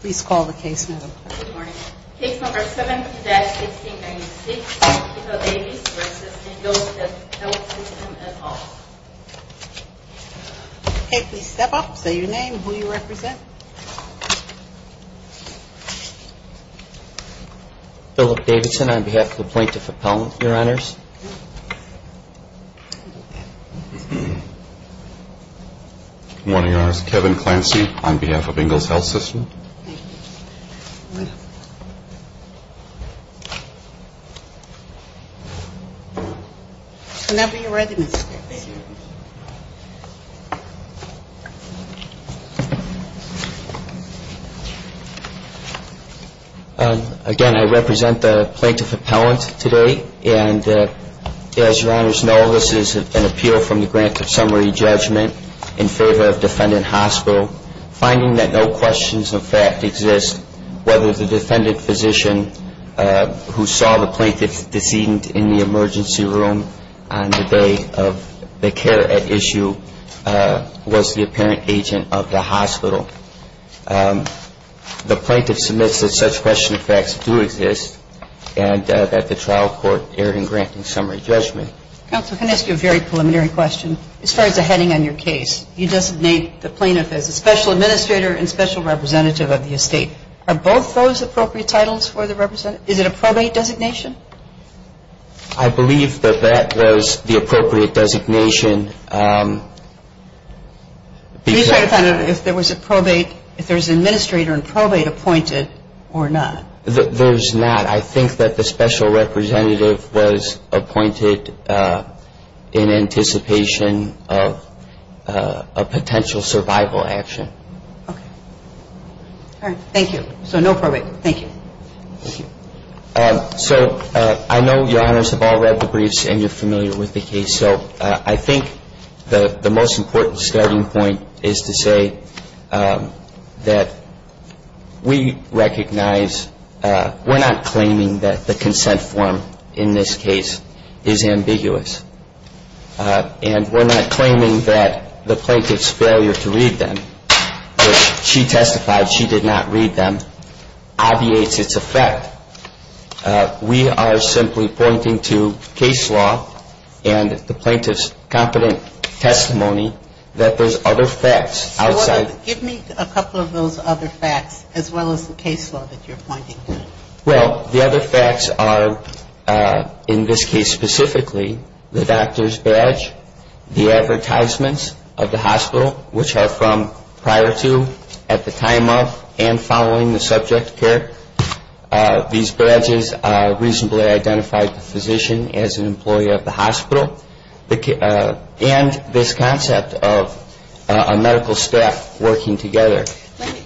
Please call the case number. Case number 7-1696, Keiko Davies v. Ingalls Health System et al. Okay, please step up, say your name, who you represent. Philip Davidson on behalf of the plaintiff appellant, your honors. Good morning, your honors. Kevin Clancy on behalf of Ingalls Health System. Whenever you're ready, Mr. Davidson. Thank you. Again, I represent the plaintiff appellant today, and as your honors know, this is an appeal from the grant of summary judgment in favor of defendant hospital, finding that no questions of fact exist whether the defendant physician who saw the plaintiff's decedent in the emergency room on the day of the care at issue was the apparent agent of the hospital. The plaintiff submits that such question of facts do exist and that the trial court erred in granting summary judgment. Counsel, can I ask you a very preliminary question? As far as the heading on your case, you designate the plaintiff as a special administrator and special representative of the estate. Are both those appropriate titles for the representative? Is it a probate designation? I believe that that was the appropriate designation. Can you tell the defendant if there was a probate, if there was an administrator and probate appointed or not? There's not. I think that the special representative was appointed in anticipation of a potential survival action. All right. Thank you. So no probate. Thank you. So I know your honors have all read the briefs and you're familiar with the case. So I think the most important starting point is to say that we recognize we're not claiming that the consent form in this case is ambiguous. And we're not claiming that the plaintiff's failure to read them, which she testified she did not read them, obviates its effect. We are simply pointing to case law and the plaintiff's competent testimony that there's other facts outside. Give me a couple of those other facts as well as the case law that you're pointing to. Well, the other facts are, in this case specifically, the doctor's badge, the advertisements of the hospital, which are from prior to, at the time of, and following the subject care. These badges reasonably identified the physician as an employee of the hospital. And this concept of a medical staff working together.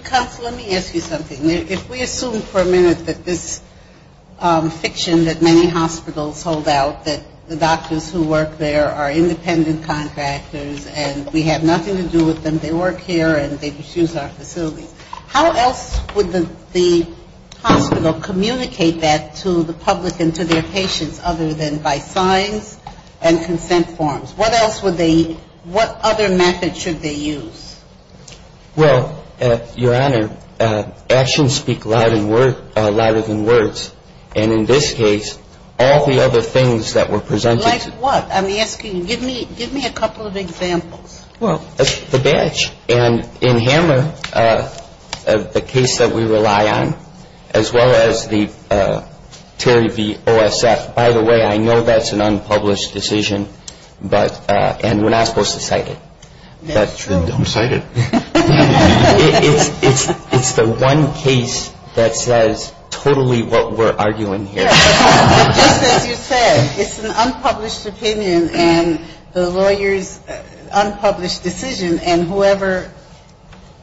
Counsel, let me ask you something. If we assume for a minute that this fiction that many hospitals hold out, that the doctors who work there are independent contractors and we have nothing to do with them, they work here and they refuse our facilities, how else would the hospital communicate that to the public and to their patients other than by signs and consent forms? What else would they, what other method should they use? Well, Your Honor, actions speak louder than words. And in this case, all the other things that were presented. Like what? I'm asking, give me a couple of examples. Well, the badge. And in Hammer, the case that we rely on, as well as the Terry v. OSF. By the way, I know that's an unpublished decision, but, and we're not supposed to cite it. That's true. Don't cite it. It's the one case that says totally what we're arguing here. Just as you said, it's an unpublished opinion and the lawyer's unpublished decision and whoever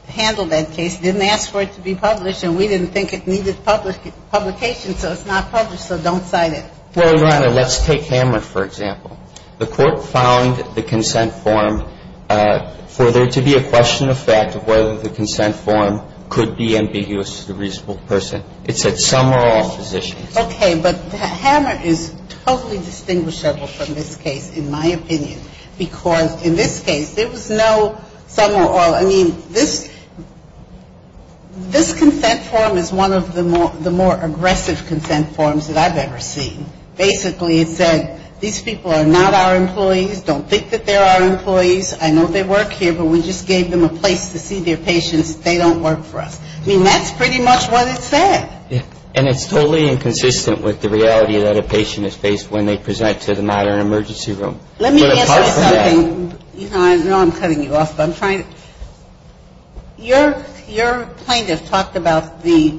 handled that case didn't ask for it to be published and we didn't think it needed publication, so it's not published, so don't cite it. Well, Your Honor, let's take Hammer, for example. The court found the consent form for there to be a question of fact of whether the consent form could be ambiguous to the reasonable person. It said some or all positions. Okay. But Hammer is totally distinguishable from this case, in my opinion, because in this case, there was no some or all. I mean, this consent form is one of the more aggressive consent forms that I've ever seen. Basically, it said these people are not our employees. Don't think that they're our employees. I know they work here, but we just gave them a place to see their patients. They don't work for us. I mean, that's pretty much what it said. And it's totally inconsistent with the reality that a patient is faced when they present to the modern emergency room. Let me answer something. I know I'm cutting you off, but I'm trying to. Your plaintiff talked about the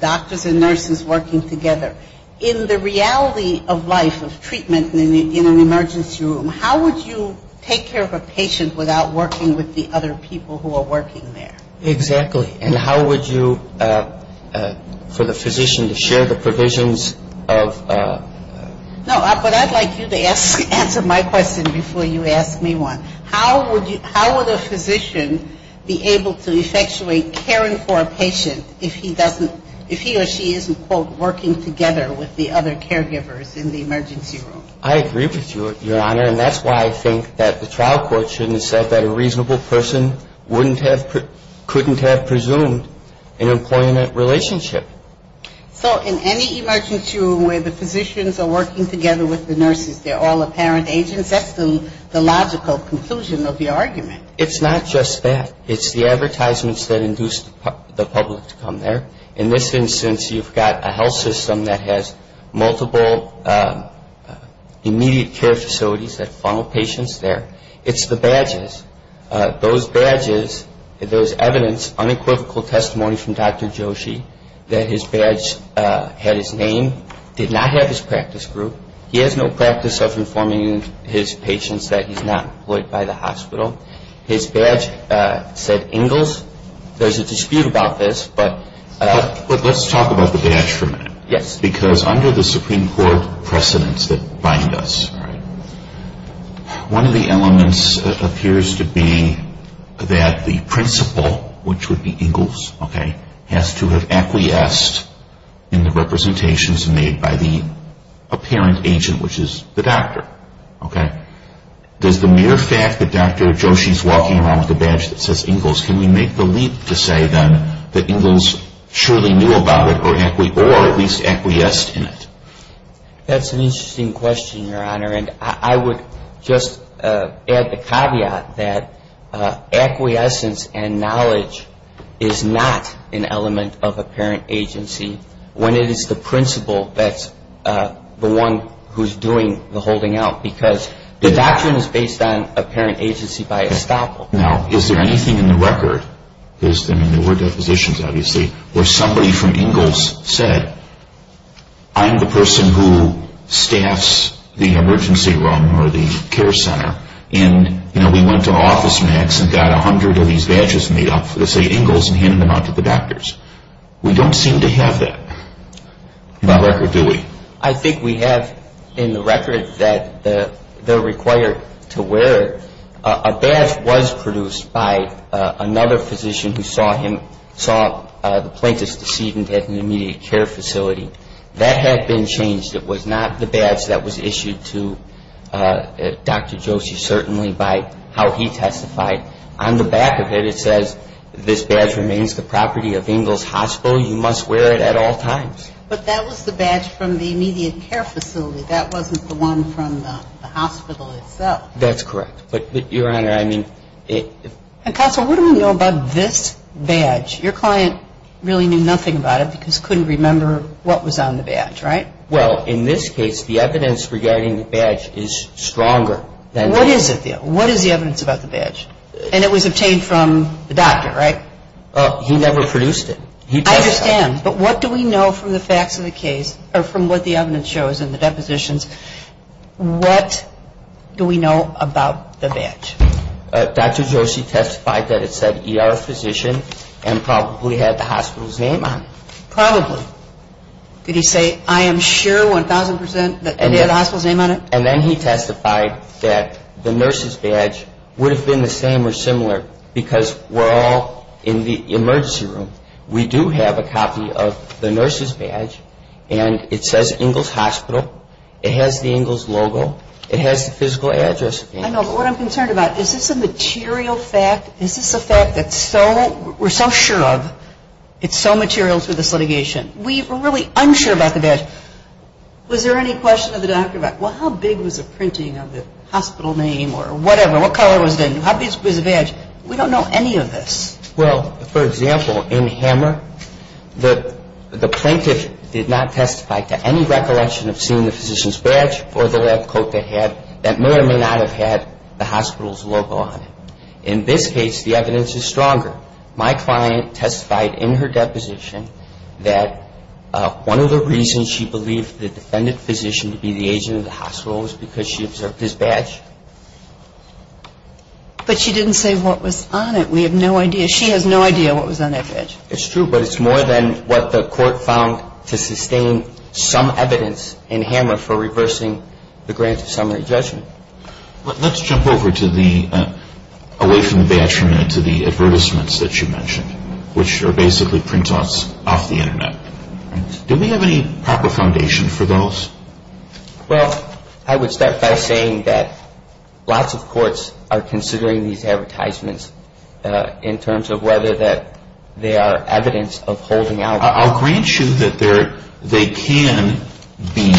doctors and nurses working together. In the reality of life, of treatment in an emergency room, how would you take care of a patient without working with the other people who are working there? Exactly. And how would you, for the physician to share the provisions of... No, but I'd like you to answer my question before you ask me one. How would a physician be able to effectuate caring for a patient if he doesn't, if he or she isn't, quote, working together with the other caregivers in the emergency room? I agree with you, Your Honor. And that's why I think that the trial court shouldn't have said that a reasonable person couldn't have presumed an employment relationship. So in any emergency room where the physicians are working together with the nurses, they're all apparent agents, that's the logical conclusion of your argument. It's not just that. It's the advertisements that induce the public to come there. In this instance, you've got a health system that has multiple immediate care facilities that funnel patients there. It's the badges. Those badges, those evidence, unequivocal testimony from Dr. Joshi that his badge had his name, did not have his practice group. He has no practice of informing his patients that he's not employed by the hospital. His badge said Ingalls. There's a dispute about this. But let's talk about the badge for a minute. Yes. Because under the Supreme Court precedents that bind us, one of the elements appears to be that the principal, which would be Ingalls, has to have acquiesced in the representations made by the apparent agent, which is the doctor. Okay. Does the mere fact that Dr. Joshi is walking around with a badge that says Ingalls, can we make the leap to say then that Ingalls surely knew about it or at least acquiesced in it? That's an interesting question, Your Honor, and I would just add the caveat that acquiescence and knowledge is not an element of apparent agency when it is the principal that's the one who's doing the holding out because the doctrine is based on apparent agency by estoppel. Now, is there anything in the record? I mean, there were depositions, obviously, where somebody from Ingalls said I'm the person who staffs the emergency room or the care center and, you know, we went to OfficeMax and got 100 of these badges made up that say Ingalls and handed them out to the doctors. We don't seem to have that in the record, do we? I think we have in the record that they're required to wear it. A badge was produced by another physician who saw him, saw the plaintiff's decedent at an immediate care facility. That had been changed. It was not the badge that was issued to Dr. Joshi, certainly, by how he testified. On the back of it, it says this badge remains the property of Ingalls Hospital. You must wear it at all times. But that was the badge from the immediate care facility. That wasn't the one from the hospital itself. That's correct. But, Your Honor, I mean it – Counsel, what do we know about this badge? Your client really knew nothing about it because couldn't remember what was on the badge, right? Well, in this case, the evidence regarding the badge is stronger than – What is the evidence about the badge? And it was obtained from the doctor, right? He never produced it. I understand, but what do we know from the facts of the case or from what the evidence shows in the depositions? What do we know about the badge? Dr. Joshi testified that it said ER physician and probably had the hospital's name on it. Probably. Did he say, I am sure 1,000 percent that they had the hospital's name on it? And then he testified that the nurse's badge would have been the same or similar because we're all in the emergency room. We do have a copy of the nurse's badge, and it says Ingalls Hospital. It has the Ingalls logo. It has the physical address. I know, but what I'm concerned about, is this a material fact? Is this a fact that we're so sure of, it's so material to this litigation? We were really unsure about the badge. Was there any question of the doctor about, well, how big was the printing of the hospital name or whatever, what color was it, how big was the badge? We don't know any of this. Well, for example, in Hammer, the plaintiff did not testify to any recollection of seeing the physician's badge or the lab coat that may or may not have had the hospital's logo on it. In this case, the evidence is stronger. My client testified in her deposition that one of the reasons she believed the defendant physician to be the agent of the hospital was because she observed his badge. But she didn't say what was on it. We have no idea. She has no idea what was on that badge. It's true, but it's more than what the court found to sustain some evidence in Hammer for reversing the grant of summary judgment. Let's jump over to the, away from the badge for a minute, to the advertisements that you mentioned, which are basically printouts off the Internet. Do we have any proper foundation for those? Well, I would start by saying that lots of courts are considering these advertisements in terms of whether they are evidence of holding out. I'll grant you that they can be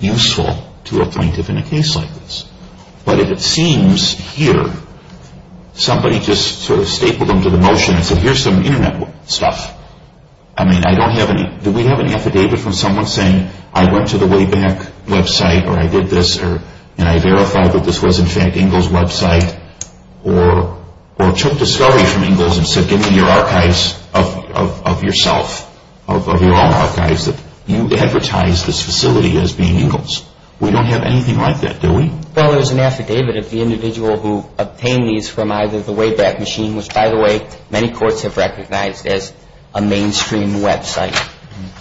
useful to a plaintiff in a case like this. But if it seems here, somebody just sort of stapled them to the motion and said, here's some Internet stuff. I mean, I don't have any, do we have any affidavit from someone saying, I went to the Wayback website, or I did this, or, and I verified that this was, in fact, or took discovery from Ingalls and said, give me your archives of yourself, of your own archives, that you advertised this facility as being Ingalls. We don't have anything like that, do we? Well, there's an affidavit of the individual who obtained these from either the Wayback machine, which, by the way, many courts have recognized as a mainstream website.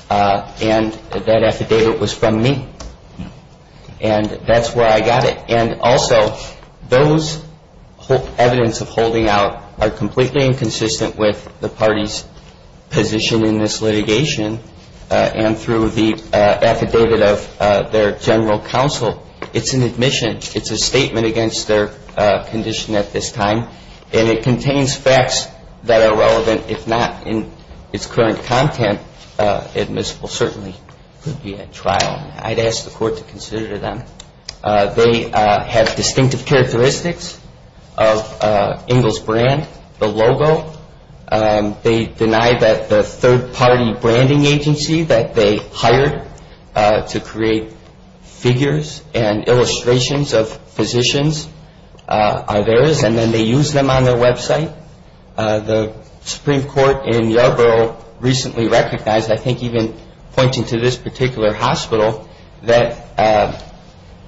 And that affidavit was from me. And that's where I got it. And also, those evidence of holding out are completely inconsistent with the party's position in this litigation. And through the affidavit of their general counsel, it's an admission. It's a statement against their condition at this time. And it contains facts that are relevant, if not in its current content, admissible, certainly could be at trial. I'd ask the court to consider them. They have distinctive characteristics of Ingalls brand, the logo. They deny that the third-party branding agency that they hired to create figures and illustrations of physicians are theirs. And then they use them on their website. The Supreme Court in Yarborough recently recognized, I think even pointing to this particular hospital, that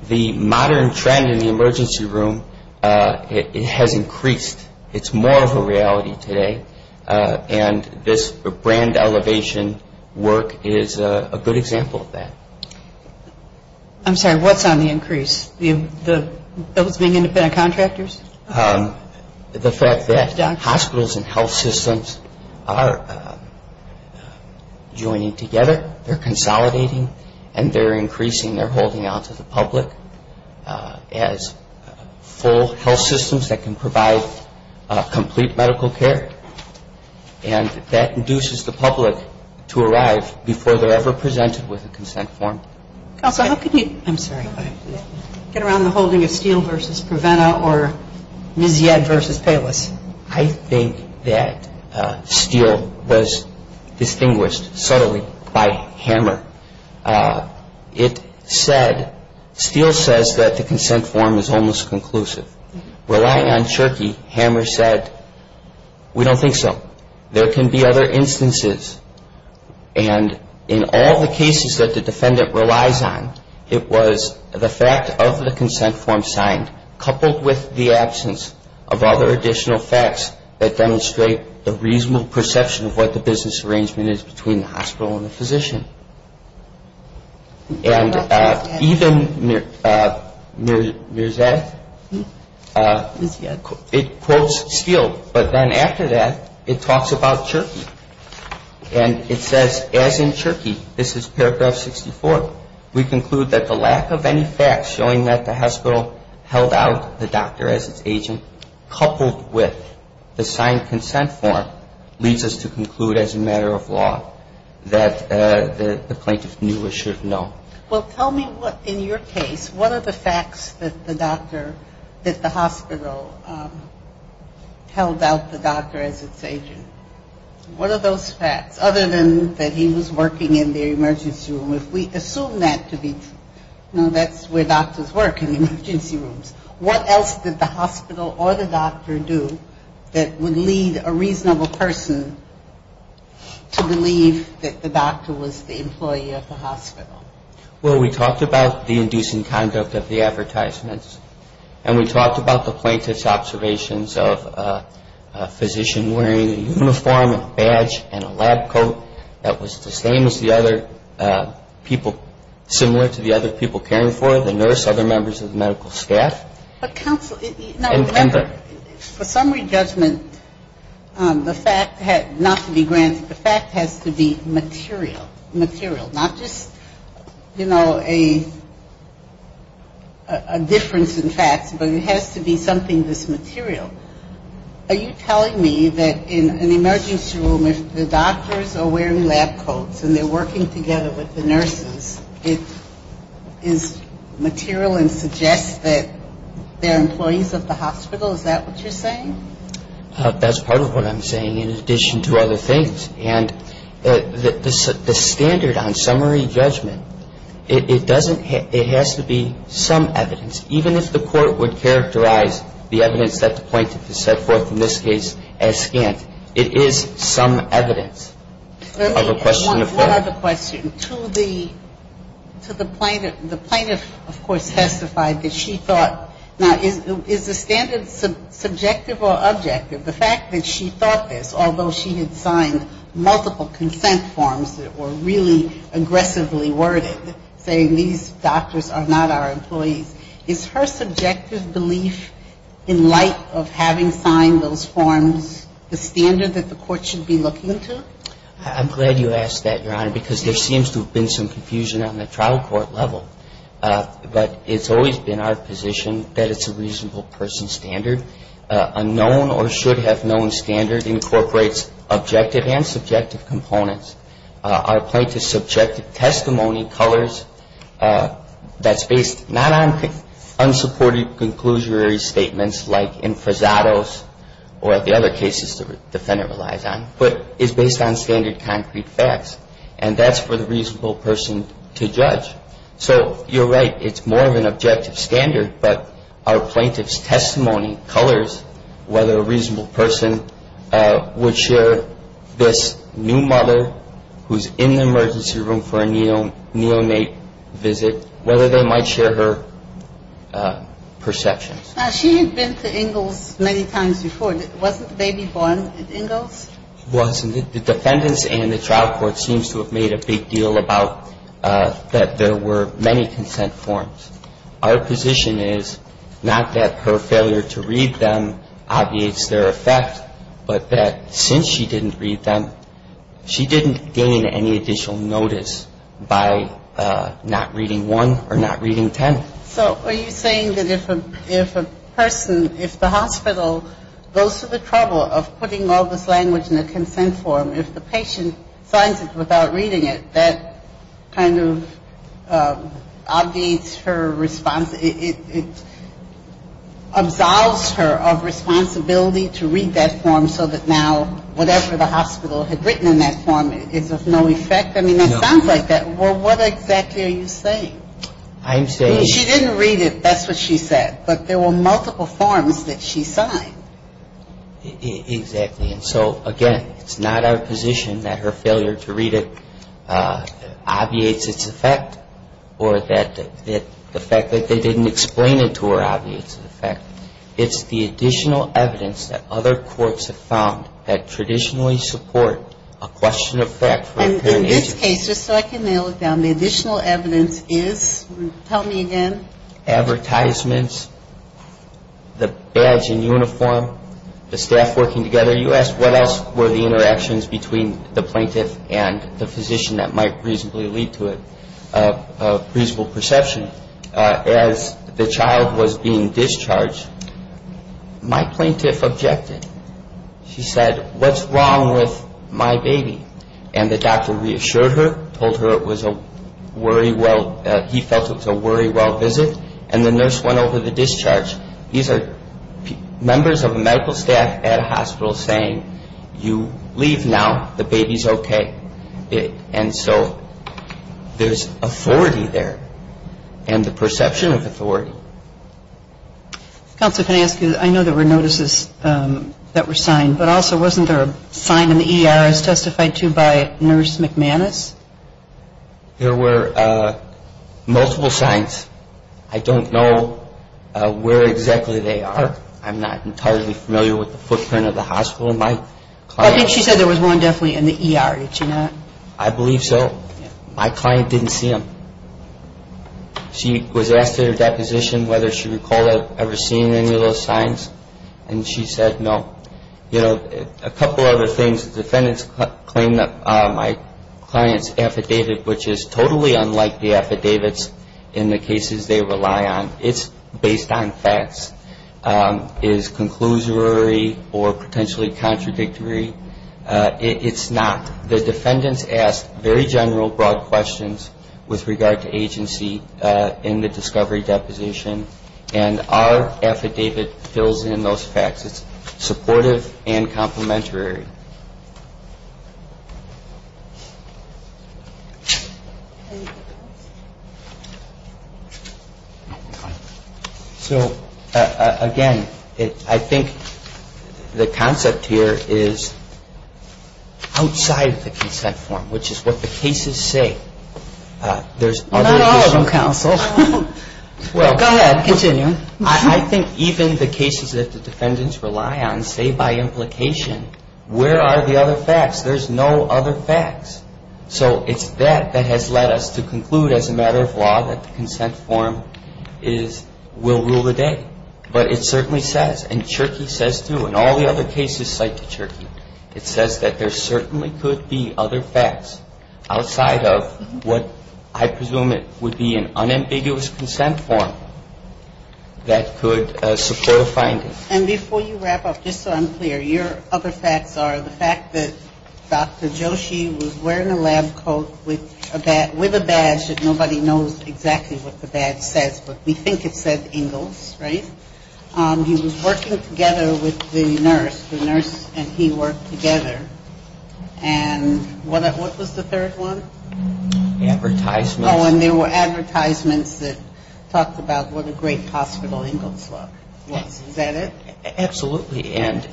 the modern trend in the emergency room has increased. It's more of a reality today. And this brand elevation work is a good example of that. I'm sorry. What's on the increase? Those being independent contractors? The fact that hospitals and health systems are joining together. They're consolidating. And they're increasing their holding out to the public as full health systems that can provide complete medical care. And that induces the public to arrive before they're ever presented with a consent form. Counsel, how can you get around the holding of Steele versus Preventa or Mizied versus Payless? I think that Steele was distinguished subtly by Hammer. It said, Steele says that the consent form is almost conclusive. Relying on Cherokee, Hammer said, we don't think so. There can be other instances. And in all the cases that the defendant relies on, it was the fact of the consent form signed, coupled with the absence of other additional facts that demonstrate the reasonable perception of what the business arrangement is between the hospital and the physician. And even Mizied, it quotes Steele. But then after that, it talks about Cherokee. And it says, as in Cherokee, this is paragraph 64, we conclude that the lack of any facts showing that the hospital held out the doctor as its agent, coupled with the signed consent form, leads us to conclude as a matter of law that the plaintiff knew or should know. Well, tell me what, in your case, what are the facts that the doctor, that the hospital held out the doctor as its agent? What are those facts? Other than that he was working in the emergency room. If we assume that to be, you know, that's where doctors work, in emergency rooms. What else did the hospital or the doctor do that would lead a reasonable person to believe that the doctor was the employee of the hospital? Well, we talked about the inducing conduct of the advertisements, and we talked about the plaintiff's observations of a physician wearing a uniform and a badge and a lab coat that was the same as the other people, similar to the other people caring for it, the nurse, other members of the medical staff. But counsel, for summary judgment, the fact, not to be granted, the fact has to be material, material, not just, you know, a difference in facts, but it has to be something that's material. Are you telling me that in an emergency room if the doctors are wearing lab coats and they're working together with the nurses, it is material and suggests that they're employees of the hospital? Is that what you're saying? That's part of what I'm saying, in addition to other things. And the standard on summary judgment, it doesn't have to be some evidence, even if the court would characterize the evidence that the plaintiff has set forth in this case as scant. It is some evidence of a question of fact. One other question. To the plaintiff, the plaintiff, of course, testified that she thought, now, is the standard subjective or objective? The fact that she thought this, although she had signed multiple consent forms that were really aggressively worded, saying these doctors are not our employees, is her subjective belief in light of having signed those forms the standard that the court should be looking to? I'm glad you asked that, Your Honor, because there seems to have been some confusion on the trial court level. But it's always been our position that it's a reasonable person standard. A known or should have known standard incorporates objective and subjective components. Our plaintiff's subjective testimony colors, that's based not on unsupported conclusionary statements, like in Frazado's or the other cases the defendant relies on, but is based on standard concrete facts. And that's for the reasonable person to judge. So you're right, it's more of an objective standard, but our plaintiff's testimony colors whether a reasonable person would share this new mother who's in the emergency room for a neonate visit, whether they might share her perceptions. She had been to Ingalls many times before. Wasn't the baby born at Ingalls? It wasn't. The defendants and the trial court seems to have made a big deal about that there were many consent forms. Our position is not that her failure to read them obviates their effect, but that since she didn't read them, she didn't gain any additional notice by not reading one or not reading ten. So are you saying that if a person, if the hospital goes to the trouble of putting all this language in a consent form, if the patient signs it without reading it, that kind of obviates her response? It absolves her of responsibility to read that form so that now whatever the hospital had written in that form is of no effect? I mean, it sounds like that. Well, what exactly are you saying? I'm saying – She didn't read it, that's what she said. But there were multiple forms that she signed. Exactly. And so, again, it's not our position that her failure to read it obviates its effect or that the fact that they didn't explain it to her obviates its effect. It's the additional evidence that other courts have found that traditionally support a question of fact. And in this case, just so I can nail it down, the additional evidence is? Tell me again. The advertisements, the badge and uniform, the staff working together. You asked what else were the interactions between the plaintiff and the physician that might reasonably lead to a reasonable perception. As the child was being discharged, my plaintiff objected. She said, what's wrong with my baby? And the doctor reassured her, told her it was a worry-well – he felt it was a worry-well visit. And the nurse went over the discharge. These are members of medical staff at a hospital saying, you leave now, the baby's okay. And so there's authority there and the perception of authority. Counselor, can I ask you, I know there were notices that were signed, but also wasn't there a sign in the ER as testified to by Nurse McManus? There were multiple signs. I don't know where exactly they are. I'm not entirely familiar with the footprint of the hospital. I think she said there was one definitely in the ER, did she not? I believe so. My client didn't see them. She was asked at her deposition whether she recalled ever seeing any of those signs. And she said no. You know, a couple other things, the defendants claim that my client's affidavit, which is totally unlike the affidavits in the cases they rely on, it's based on facts, is conclusory or potentially contradictory. It's not. The defendants asked very general, broad questions with regard to agency in the discovery deposition. And our affidavit fills in those facts. It's supportive and complementary. So, again, I think the concept here is outside the consent form, which is what the cases say. Not all of them, counsel. Go ahead. Continue. I think even the cases that the defendants rely on say by implication, where are the other facts? There's no other facts. So it's that that has led us to conclude as a matter of law that the consent form will rule the day. But it certainly says, and Cherokee says too, and all the other cases cite Cherokee, it says that there certainly could be other facts outside of what I presume it would be an unambiguous consent form that could support a finding. And before you wrap up, just so I'm clear, your other facts are the fact that Dr. Joshi was wearing a lab coat with a badge that nobody knows exactly what the badge says, but we think it said Ingalls, right? He was working together with the nurse. The nurse and he worked together. And what was the third one? Advertisements. Oh, and there were advertisements that talked about what a great hospital Ingalls was. Is that it? Absolutely. And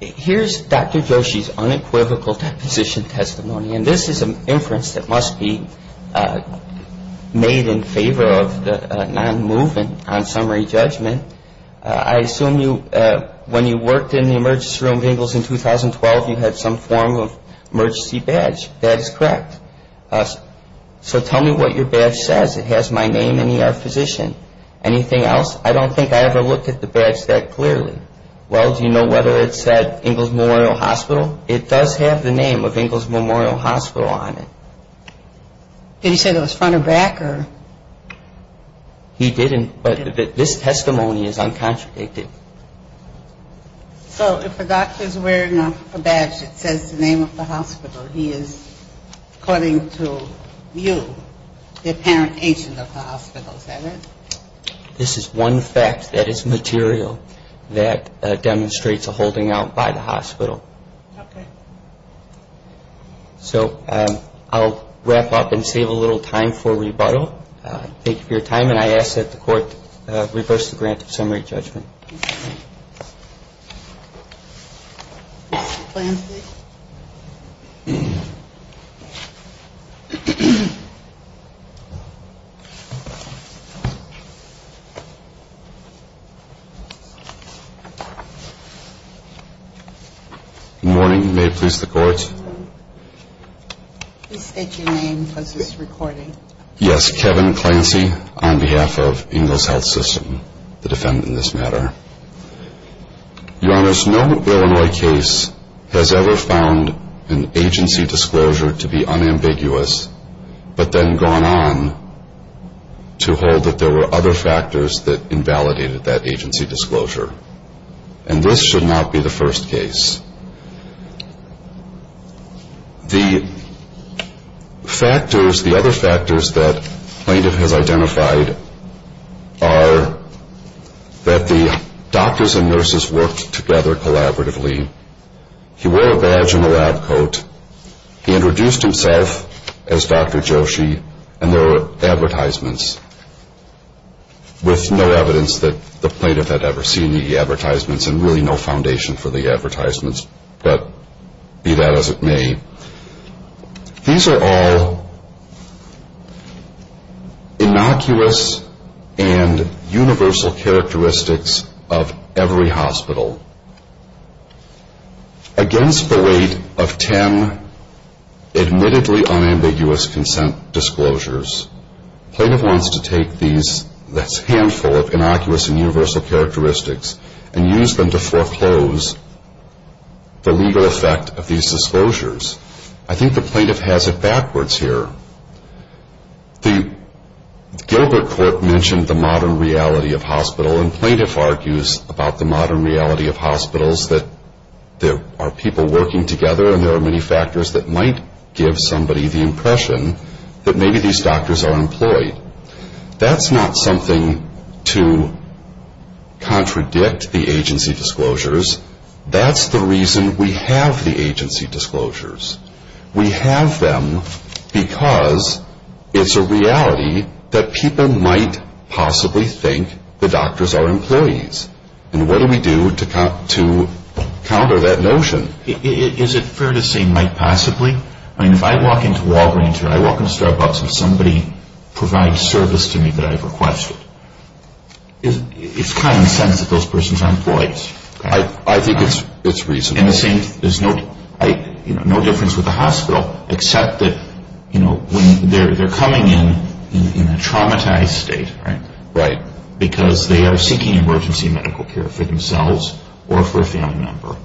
here's Dr. Joshi's unequivocal deposition testimony. And this is an inference that must be made in favor of the non-movement on summary judgment. I assume when you worked in the emergency room of Ingalls in 2012, you had some form of emergency badge. That is correct. So tell me what your badge says. It has my name and ER physician. Anything else? I don't think I ever looked at the badge that clearly. Well, do you know whether it said Ingalls Memorial Hospital? Well, it does have the name of Ingalls Memorial Hospital on it. Did he say it was front or back? He didn't, but this testimony is uncontradicted. So if a doctor is wearing a badge that says the name of the hospital, he is, according to you, the apparent agent of the hospital, is that it? This is one fact that is material that demonstrates a holding out by the hospital. Okay. So I'll wrap up and save a little time for rebuttal. Thank you for your time. And I ask that the Court reverse the grant of summary judgment. Mr. Clancy. Good morning. May it please the Court. Please state your name because this is recording. Yes, Kevin Clancy on behalf of Ingalls Health System, the defendant in this matter. Your Honor, no Illinois case has ever found an agency disclosure to be unambiguous, but then gone on to hold that there were other factors that invalidated that agency disclosure. And this should not be the first case. The factors, the other factors that the plaintiff has identified are that the doctors and nurses worked together collaboratively. He wore a badge and a lab coat. He introduced himself as Dr. Joshi, and there were advertisements with no evidence that the plaintiff had ever seen the advertisements and really no foundation for the advertisements. But be that as it may, these are all innocuous and universal characteristics of every hospital. Against the weight of ten admittedly unambiguous consent disclosures, the plaintiff wants to take these, this handful of innocuous and universal characteristics, and use them to foreclose the legal effect of these disclosures. I think the plaintiff has it backwards here. The Gilbert Court mentioned the modern reality of hospital, and plaintiff argues about the modern reality of hospitals that there are people working together and there are many factors that might give somebody the impression that maybe these doctors are employed. That's not something to contradict the agency disclosures. That's the reason we have the agency disclosures. We have them because it's a reality that people might possibly think the doctors are employees. And what do we do to counter that notion? Is it fair to say might possibly? I mean, if I walk into Walgreens or I walk into Starbucks and somebody provides service to me that I've requested, it's common sense that those persons are employees. I think it's reasonable. And the same, there's no difference with the hospital except that, you know, when they're coming in in a traumatized state, right, because they are seeking emergency medical care for themselves or for a family member,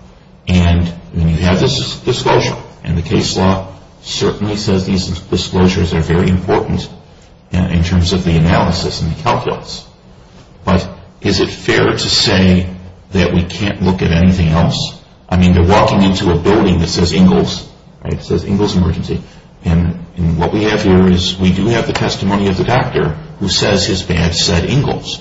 and when you have this disclosure, and the case law certainly says these disclosures are very important in terms of the analysis and the calculus, but is it fair to say that we can't look at anything else? I mean, they're walking into a building that says Ingalls, right, it says Ingalls Emergency, and what we have here is we do have the testimony of the doctor who says his badge said Ingalls,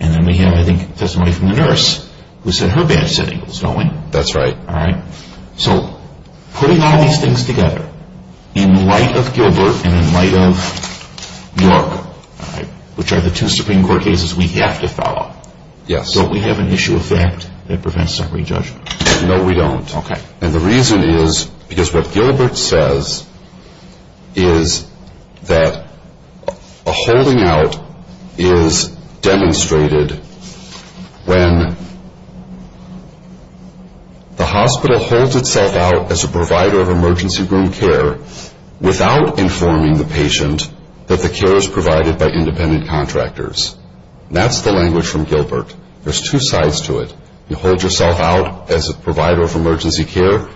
and then we have, I think, testimony from the nurse who said her badge said Ingalls, don't we? That's right. All right. So putting all these things together in light of Gilbert and in light of York, which are the two Supreme Court cases we have to follow, don't we have an issue of fact that prevents summary judgment? No, we don't. Okay. And the reason is because what Gilbert says is that a holding out is demonstrated when the hospital holds itself out as a provider of emergency room care without informing the patient that the care is provided by independent contractors. That's the language from Gilbert. There's two sides to it. You hold yourself out as a provider of emergency care,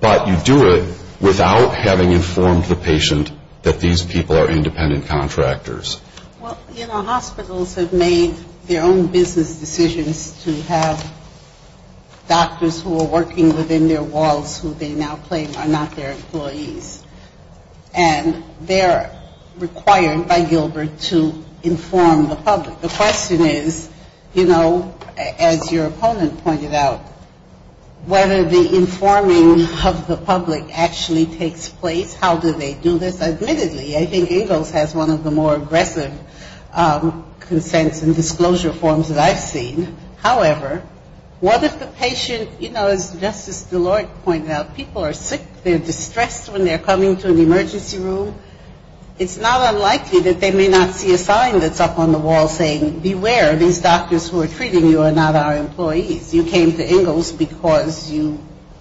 but you do it without having informed the patient that these people are independent contractors. Well, you know, hospitals have made their own business decisions to have doctors who are working within their walls who they now claim are not their employees, and they're required by Gilbert to inform the public. The question is, you know, as your opponent pointed out, whether the informing of the public actually takes place, how do they do this? Admittedly, I think Ingalls has one of the more aggressive consents and disclosure forms that I've seen. However, what if the patient, you know, as Justice Deloitte pointed out, people are sick. They're distressed when they're coming to an emergency room. It's not unlikely that they may not see a sign that's up on the wall saying, beware, these doctors who are treating you are not our employees. You came to Ingalls because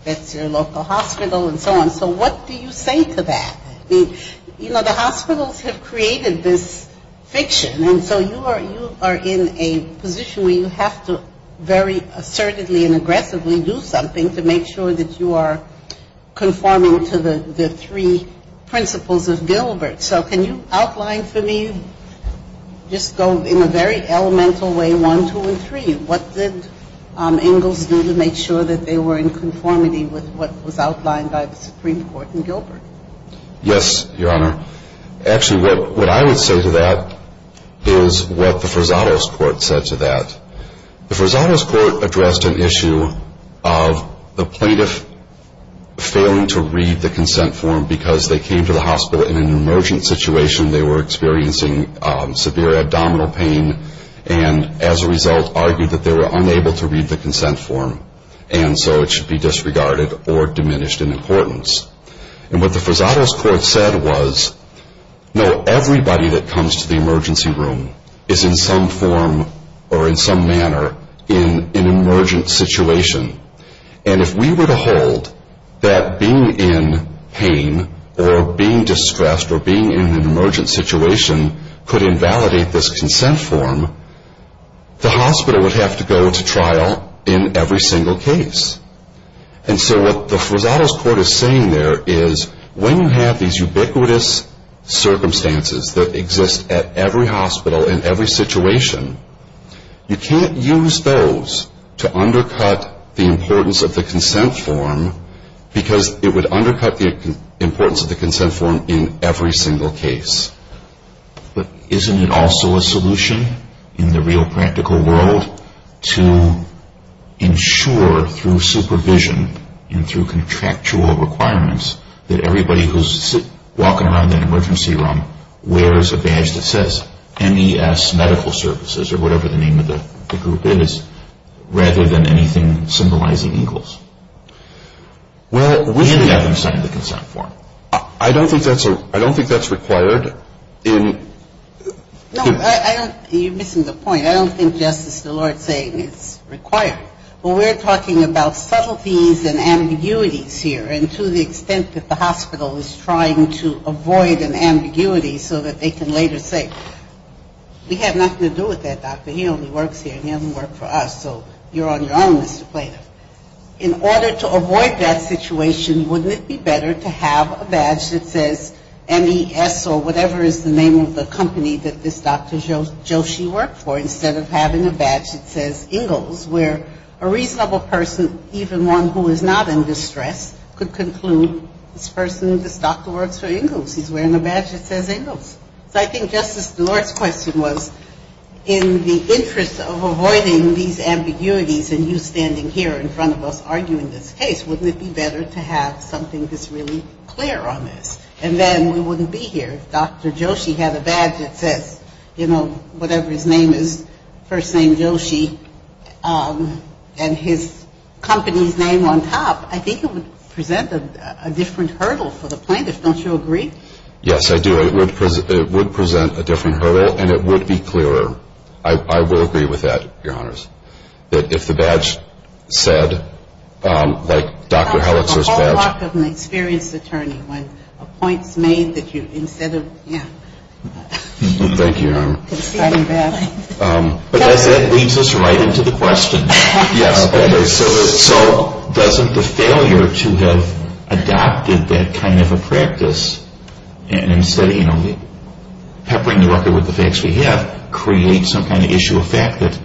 that's your local hospital and so on. So what do you say to that? You know, the hospitals have created this fiction, and so you are in a position where you have to very assertively and aggressively do something to make sure that you are conforming to the three principles of Gilbert. So can you outline for me, just go in a very elemental way, one, two, and three, what did Ingalls do to make sure that they were in conformity with what was outlined by the Supreme Court in Gilbert? Yes, Your Honor. Actually, what I would say to that is what the Forzados Court said to that. The Forzados Court addressed an issue of the plaintiff failing to read the consent form because they came to the hospital in an emergent situation, they were experiencing severe abdominal pain, and as a result argued that they were unable to read the consent form and so it should be disregarded or diminished in importance. And what the Forzados Court said was, no, everybody that comes to the emergency room is in some form or in some manner in an emergent situation. And if we were to hold that being in pain or being distressed or being in an emergent situation could invalidate this consent form, the hospital would have to go to trial in every single case. And so what the Forzados Court is saying there is when you have these ubiquitous circumstances that exist at every hospital in every situation, you can't use those to undercut the importance of the consent form because it would undercut the importance of the consent form in every single case. But isn't it also a solution in the real practical world to ensure through supervision and through contractual requirements that everybody who's walking around that emergency room wears a badge that says MES Medical Services or whatever the name of the group is rather than anything symbolizing eagles? And having signed the consent form. I don't think that's required. No, you're missing the point. I don't think Justice Szilard's saying it's required. We're talking about subtleties and ambiguities here. And to the extent that the hospital is trying to avoid an ambiguity so that they can later say, we have nothing to do with that doctor. He only works here. He doesn't work for us. So you're on your own, Mr. Plata. In order to avoid that situation, wouldn't it be better to have a badge that says MES or whatever is the name of the company that this Dr. Joshi worked for instead of having a badge that says eagles where a reasonable person, even one who is not in distress, could conclude this person, this doctor works for eagles. He's wearing a badge that says eagles. So I think Justice Szilard's question was in the interest of avoiding these ambiguities and you standing here in front of us arguing this case, wouldn't it be better to have something that's really clear on this? And then we wouldn't be here if Dr. Joshi had a badge that says, you know, whatever his name is, first name Joshi, and his company's name on top. I think it would present a different hurdle for the plaintiff. Don't you agree? Yes, I do. It would present a different hurdle and it would be clearer. I will agree with that, Your Honors. If the badge said, like Dr. Helitzer's badge. But as that leads us right into the question, so doesn't the failure to have adopted that kind of a practice and instead, you know, peppering the record with the facts we have, create some kind of issue of fact that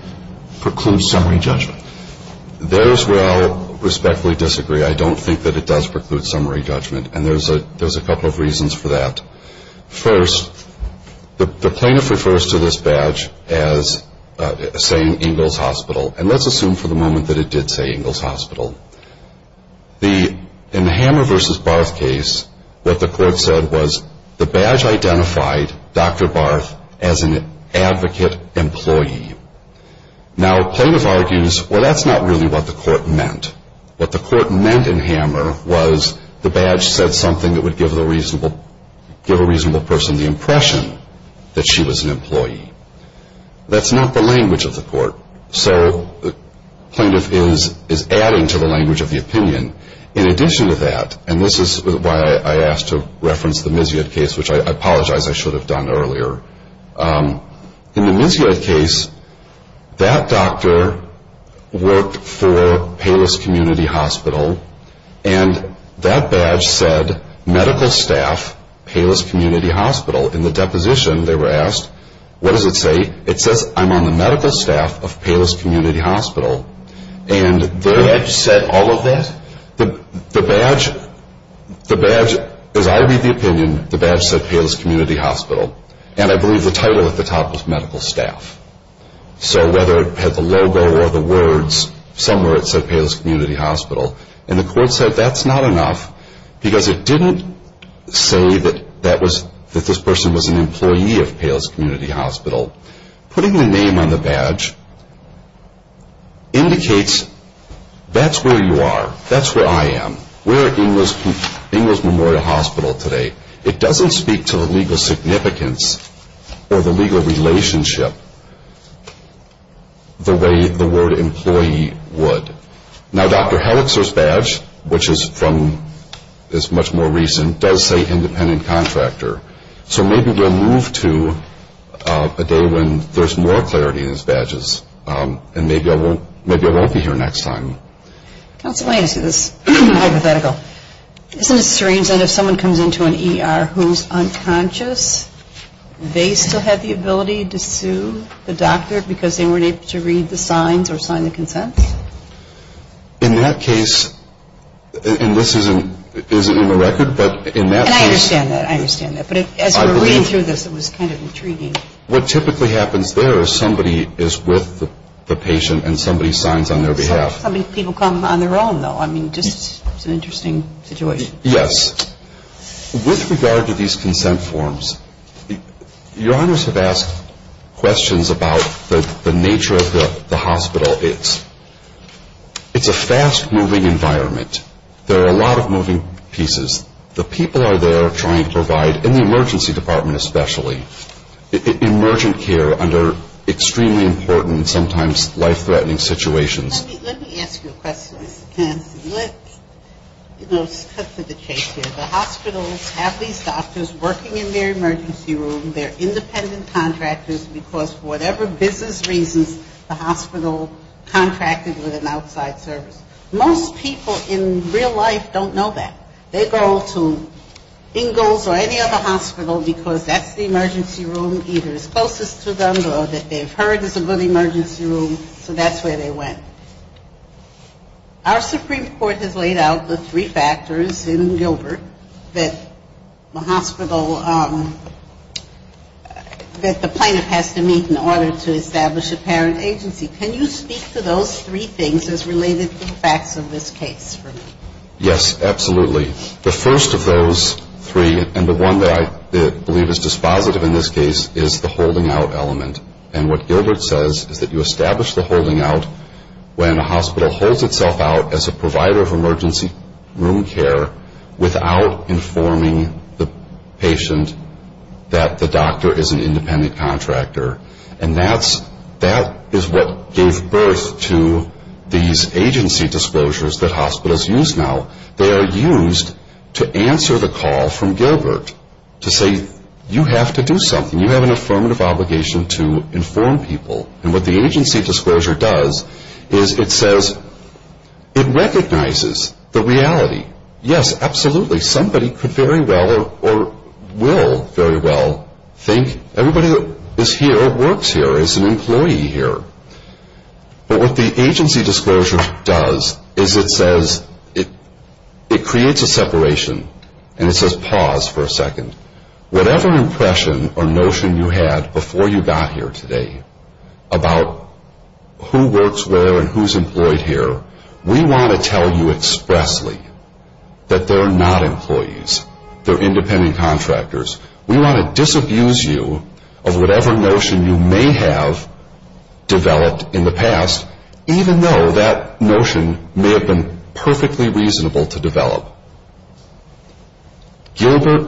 precludes summary judgment? There is where I respectfully disagree. I don't think that it does. And there's a couple of reasons for that. First, the plaintiff refers to this badge as saying Ingalls Hospital, and let's assume for the moment that it did say Ingalls Hospital. In the Hammer v. Barth case, what the court said was, the badge identified Dr. Barth as an advocate employee. Now, plaintiff argues, well, that's not really what the court meant. What the court meant in Hammer was, the badge said something that would give a reasonable person the impression that she was an employee. That's not the language of the court. So the plaintiff is adding to the language of the opinion. In addition to that, and this is why I asked to reference the Misiot case, which I apologize, I should have done earlier. In the Misiot case, that doctor worked for Payless Community Hospital, and that badge said, medical staff, Payless Community Hospital. In the deposition, they were asked, what does it say? It says, I'm on the medical staff of Payless Community Hospital. And the badge said all of that? The badge, as I read the opinion, the badge said Payless Community Hospital. And I believe the title at the top was medical staff. So whether it had the logo or the words, somewhere it said Payless Community Hospital. And the court said that's not enough, because it didn't say that this person was an employee of Payless Community Hospital. Putting the name on the badge indicates that's where you are, that's where I am. We're at Ingalls Memorial Hospital today. It doesn't speak to the legal significance or the legal relationship the way the word employee would. Now, Dr. Helixer's badge, which is from, is much more recent, does say independent contractor. So maybe we'll move to a day when there's more clarity in his badges, and maybe I won't be here next time. Counsel, let me ask you this hypothetical. Isn't it strange that if someone comes into an ER who's unconscious, they still have the ability to sue the doctor because they weren't able to read the signs or sign the consent? In that case, and this isn't in the record, but in that case. And I understand that, I understand that. But as we were reading through this, it was kind of intriguing. What typically happens there is somebody is with the patient and somebody signs on their behalf. Some people come on their own, though. I mean, just an interesting situation. Yes. With regard to these consent forms, Your Honors have asked questions about the nature of the hospital. It's a fast-moving environment. There are a lot of moving pieces. The people are there trying to provide, in the emergency department especially, emergent care under extremely important, sometimes life-threatening situations. Let me ask you a question, Mr. Canston. Let's cut to the chase here. The hospitals have these doctors working in their emergency room. They're independent contractors because whatever business reasons, the hospital contracted with an outside service. Most people in real life don't know that. They go to Ingalls or any other hospital because that's the emergency room either is closest to them or that they've heard is a good emergency room, so that's where they went. Our Supreme Court has laid out the three factors in Gilbert that the hospital, that the plaintiff has to meet in order to establish a parent agency. Can you speak to those three things as related to the facts of this case for me? Yes, absolutely. The first of those three, and the one that I believe is dispositive in this case, is the holding out element. And what Gilbert says is that you establish the holding out when a hospital holds itself out as a provider of emergency room care without informing the patient that the doctor is an independent contractor. And that is what gave birth to these agency disclosures that hospitals use now. They are used to answer the call from Gilbert to say you have to do something. You have an affirmative obligation to inform people. And what the agency disclosure does is it says it recognizes the reality. Yes, absolutely. Somebody could very well or will very well think everybody that is here works here, is an employee here. But what the agency disclosure does is it says it creates a separation and it says pause for a second. Whatever impression or notion you had before you got here today about who works where and who is employed here, we want to tell you expressly that they're not employees. They're independent contractors. We want to disabuse you of whatever notion you may have developed in the past, even though that notion may have been perfectly reasonable to develop. Gilbert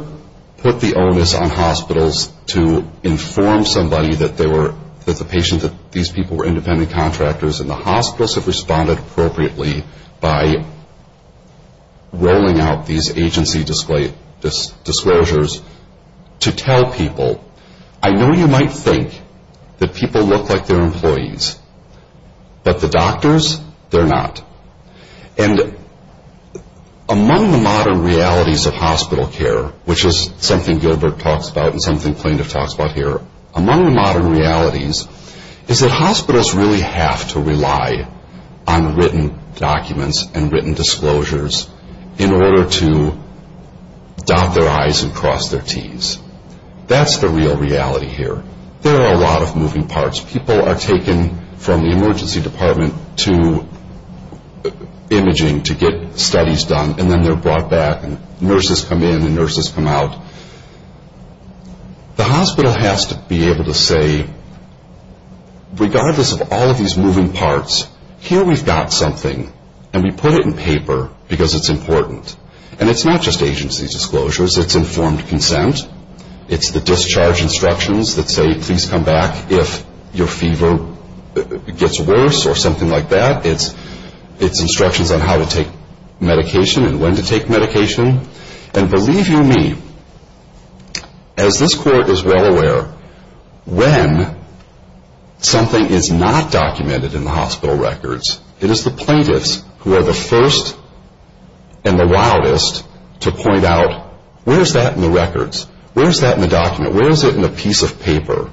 put the onus on hospitals to inform somebody that the patient, that these people were independent contractors, and the hospitals have responded appropriately by rolling out these agency disclosures to tell people, I know you might think that people look like they're employees, but the doctors, they're not. And among the modern realities of hospital care, which is something Gilbert talks about and something plaintiff talks about here, among the modern realities is that hospitals really have to rely on written documents and written disclosures in order to dot their I's and cross their T's. That's the real reality here. There are a lot of moving parts. People are taken from the emergency department to imaging to get studies done, and then they're brought back and nurses come in and nurses come out. The hospital has to be able to say, regardless of all of these moving parts, here we've got something, and we put it in paper because it's important. And it's not just agency disclosures. It's informed consent. It's the discharge instructions that say, please come back if your fever gets worse or something like that. It's instructions on how to take medication and when to take medication. And believe you me, as this court is well aware, when something is not documented in the hospital records, it is the plaintiffs who are the first and the wildest to point out, where's that in the records? Where's that in the document? Where is it in the piece of paper?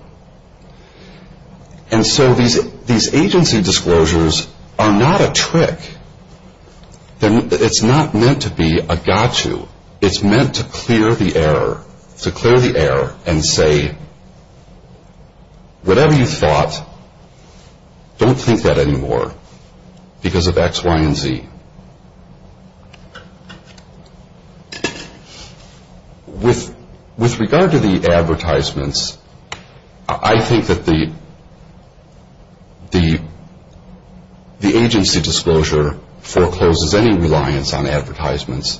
And so these agency disclosures are not a trick. It's not meant to be a got you. It's meant to clear the error and say, whatever you thought, don't think that anymore because of X, Y, and Z. With regard to the advertisements, I think that the agency disclosure forecloses any reliance on advertisements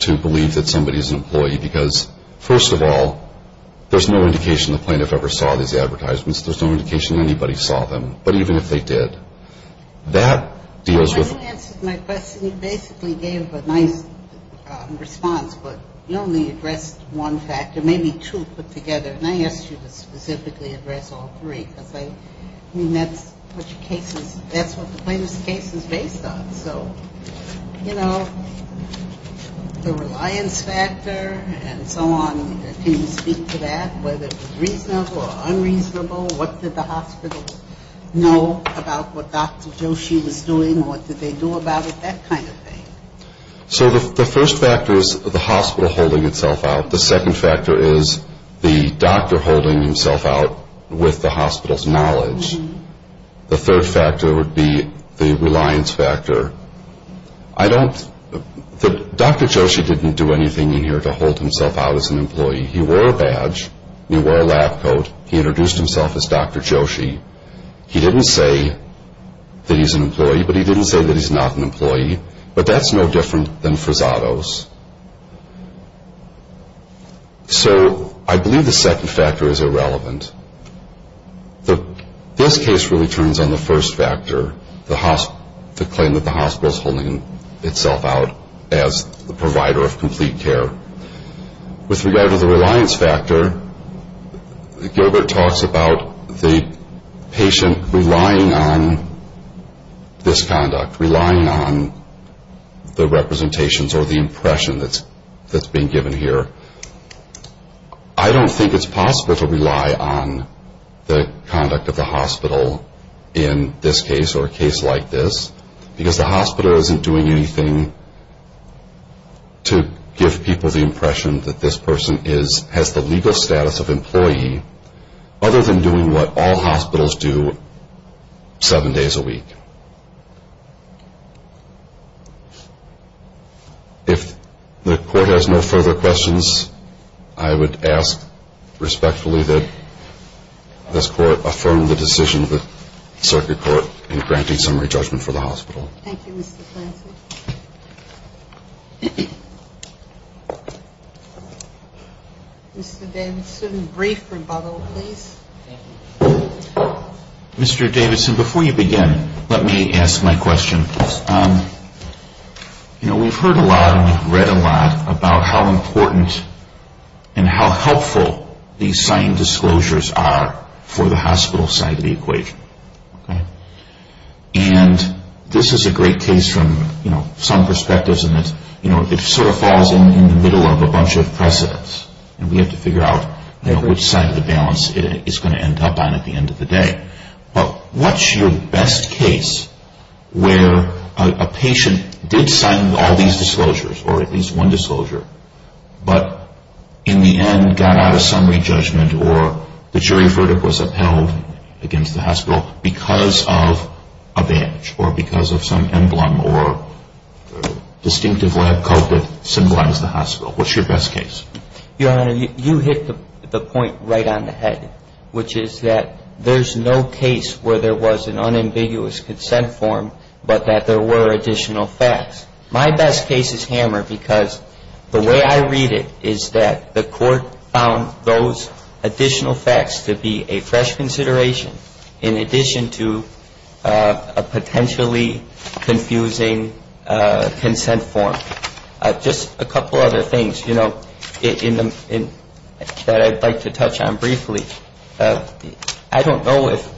to believe that somebody is an employee because, first of all, there's no indication the plaintiff ever saw these advertisements. There's no indication anybody saw them. But even if they did, that deals with... You answered my question. You basically gave a nice response, but you only addressed one factor. Maybe two put together. And I asked you to specifically address all three because that's what the plaintiff's case is based on. So, you know, the reliance factor and so on, can you speak to that, whether it was reasonable or unreasonable? What did the hospital know about what Dr. Joshi was doing? What did they do about it? That kind of thing. So the first factor is the hospital holding itself out. The second factor is the doctor holding himself out with the hospital's knowledge. The third factor would be the reliance factor. I don't... Dr. Joshi didn't do anything in here to hold himself out as an employee. He wore a badge. He wore a lab coat. He introduced himself as Dr. Joshi. He didn't say that he's an employee, but he didn't say that he's not an employee. But that's no different than Frazado's. So I believe the second factor is irrelevant. This case really turns on the first factor, the claim that the hospital's holding itself out as the provider of complete care. With regard to the reliance factor, Gilbert talks about the patient relying on this conduct, relying on the representations or the impression that's being given here. I don't think it's possible to rely on the conduct of the hospital in this case or a case like this because the hospital isn't doing anything to give people the impression that this person has the legal status of employee other than doing what all hospitals do seven days a week. If the court has no further questions, I would ask respectfully that this court affirm the decision of the circuit court in granting summary judgment for the hospital. Thank you, Mr. Clancy. Mr. Davidson, brief rebuttal, please. Mr. Davidson, before you begin, let me ask my question. You know, we've heard a lot and we've read a lot about how important and how helpful these signed disclosures are for the hospital side of the equation. And this is a great case from some perspectives and it sort of falls in the middle of a bunch of precedents and we have to figure out which side of the balance it's going to end up on at the end of the day. But what's your best case where a patient did sign all these disclosures or at least one disclosure but in the end got out of summary judgment or the jury verdict was upheld against the hospital because of a badge or because of some emblem or distinctive lab coat that symbolized the hospital? What's your best case? Your Honor, you hit the point right on the head, which is that there's no case where there was an unambiguous consent form but that there were additional facts. My best case is Hammer because the way I read it is that the court found those additional facts to be a fresh consideration in addition to a potentially confusing consent form. Just a couple other things, you know, that I'd like to touch on briefly. I don't know if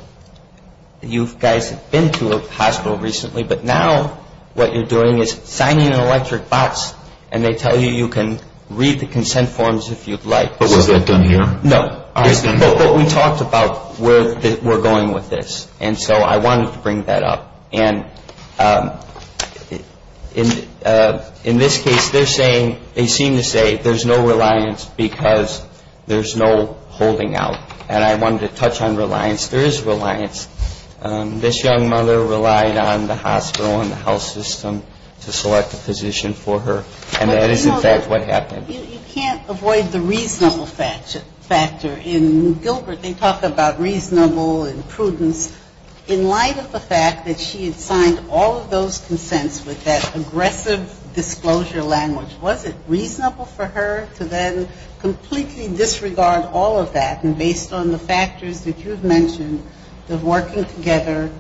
you guys have been to a hospital recently, but now what you're doing is signing an electric box and they tell you you can read the consent forms if you'd like. But was that done here? No, but we talked about where we're going with this. And so I wanted to bring that up. And in this case, they seem to say there's no reliance because there's no holding out. And I wanted to touch on reliance. There is reliance. This young mother relied on the hospital and the health system to select a physician for her. And that is, in fact, what happened. You can't avoid the reasonable factor. In Gilbert, they talk about reasonable and prudence. In light of the fact that she had signed all of those consents with that aggressive disclosure language, was it reasonable for her to then completely disregard all of that and based on the factors that you've mentioned, the working together,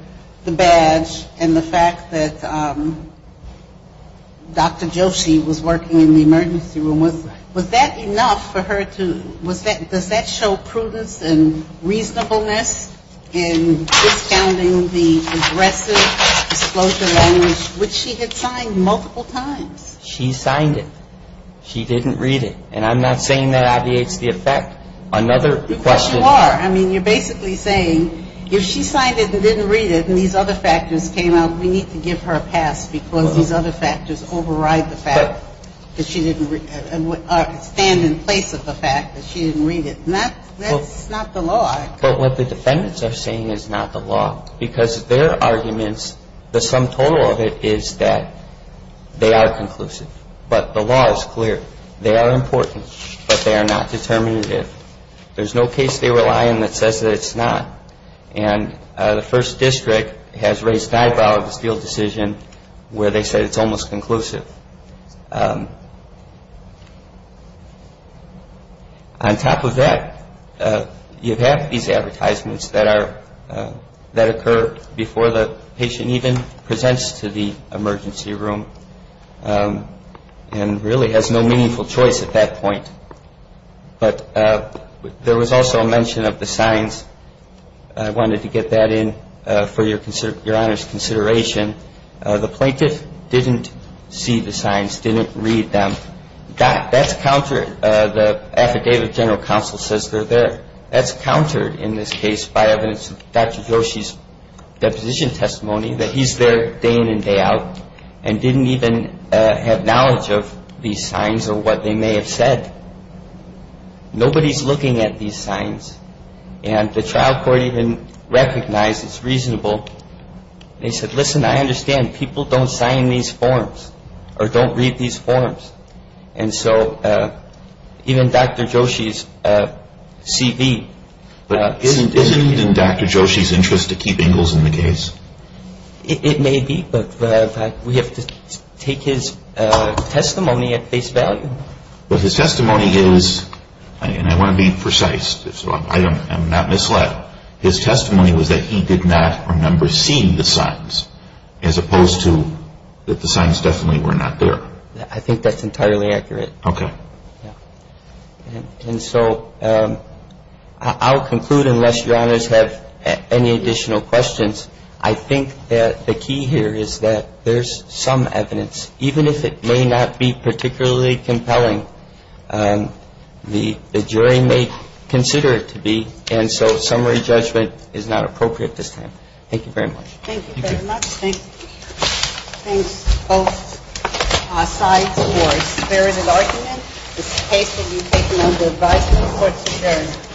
the badge, and the fact that Dr. Joshi was working in the emergency room, was that enough for her to ‑‑ does that show prudence and reasonableness in discounting the aggressive disclosure language which she had signed multiple times? She signed it. She didn't read it. And I'm not saying that obviates the effect. Another question ‑‑ But you are. I mean, you're basically saying if she signed it and didn't read it and these other factors came out, we need to give her a pass because these other factors override the fact that she didn't read it and stand in place of the fact that she didn't read it. That's not the law. But what the defendants are saying is not the law because their arguments, the sum total of it is that they are conclusive. But the law is clear. They are important, but they are not determinative. There's no case they rely on that says that it's not. And the First District has raised an eyebrow at this field decision where they said it's almost conclusive. On top of that, you have these advertisements that occur before the patient even presents to the emergency room and really has no meaningful choice at that point. But there was also a mention of the signs. I wanted to get that in for Your Honor's consideration. The plaintiff didn't see the signs, didn't read them. That's countered. The Affidavit of General Counsel says they're there. That's countered in this case by evidence of Dr. Yoshi's deposition testimony, that he's there day in and day out and didn't even have knowledge of these signs or what they may have said. Nobody's looking at these signs. And the trial court even recognized it's reasonable. They said, listen, I understand. People don't sign these forms or don't read these forms. And so even Dr. Yoshi's CV isn't indicated. So you're saying that Dr. Yoshi's interest to keep Ingles in the case? It may be, but we have to take his testimony at face value. But his testimony is, and I want to be precise, so I'm not misled, his testimony was that he did not remember seeing the signs as opposed to that the signs definitely were not there. I think that's entirely accurate. Okay. And so I'll conclude unless Your Honors have any additional questions. I think that the key here is that there's some evidence, even if it may not be particularly compelling, the jury may consider it to be. And so summary judgment is not appropriate at this time. Thank you very much. Thank you very much. Thanks, both sides, for a spirited argument. This case will be taken under advisement of the court's attorney.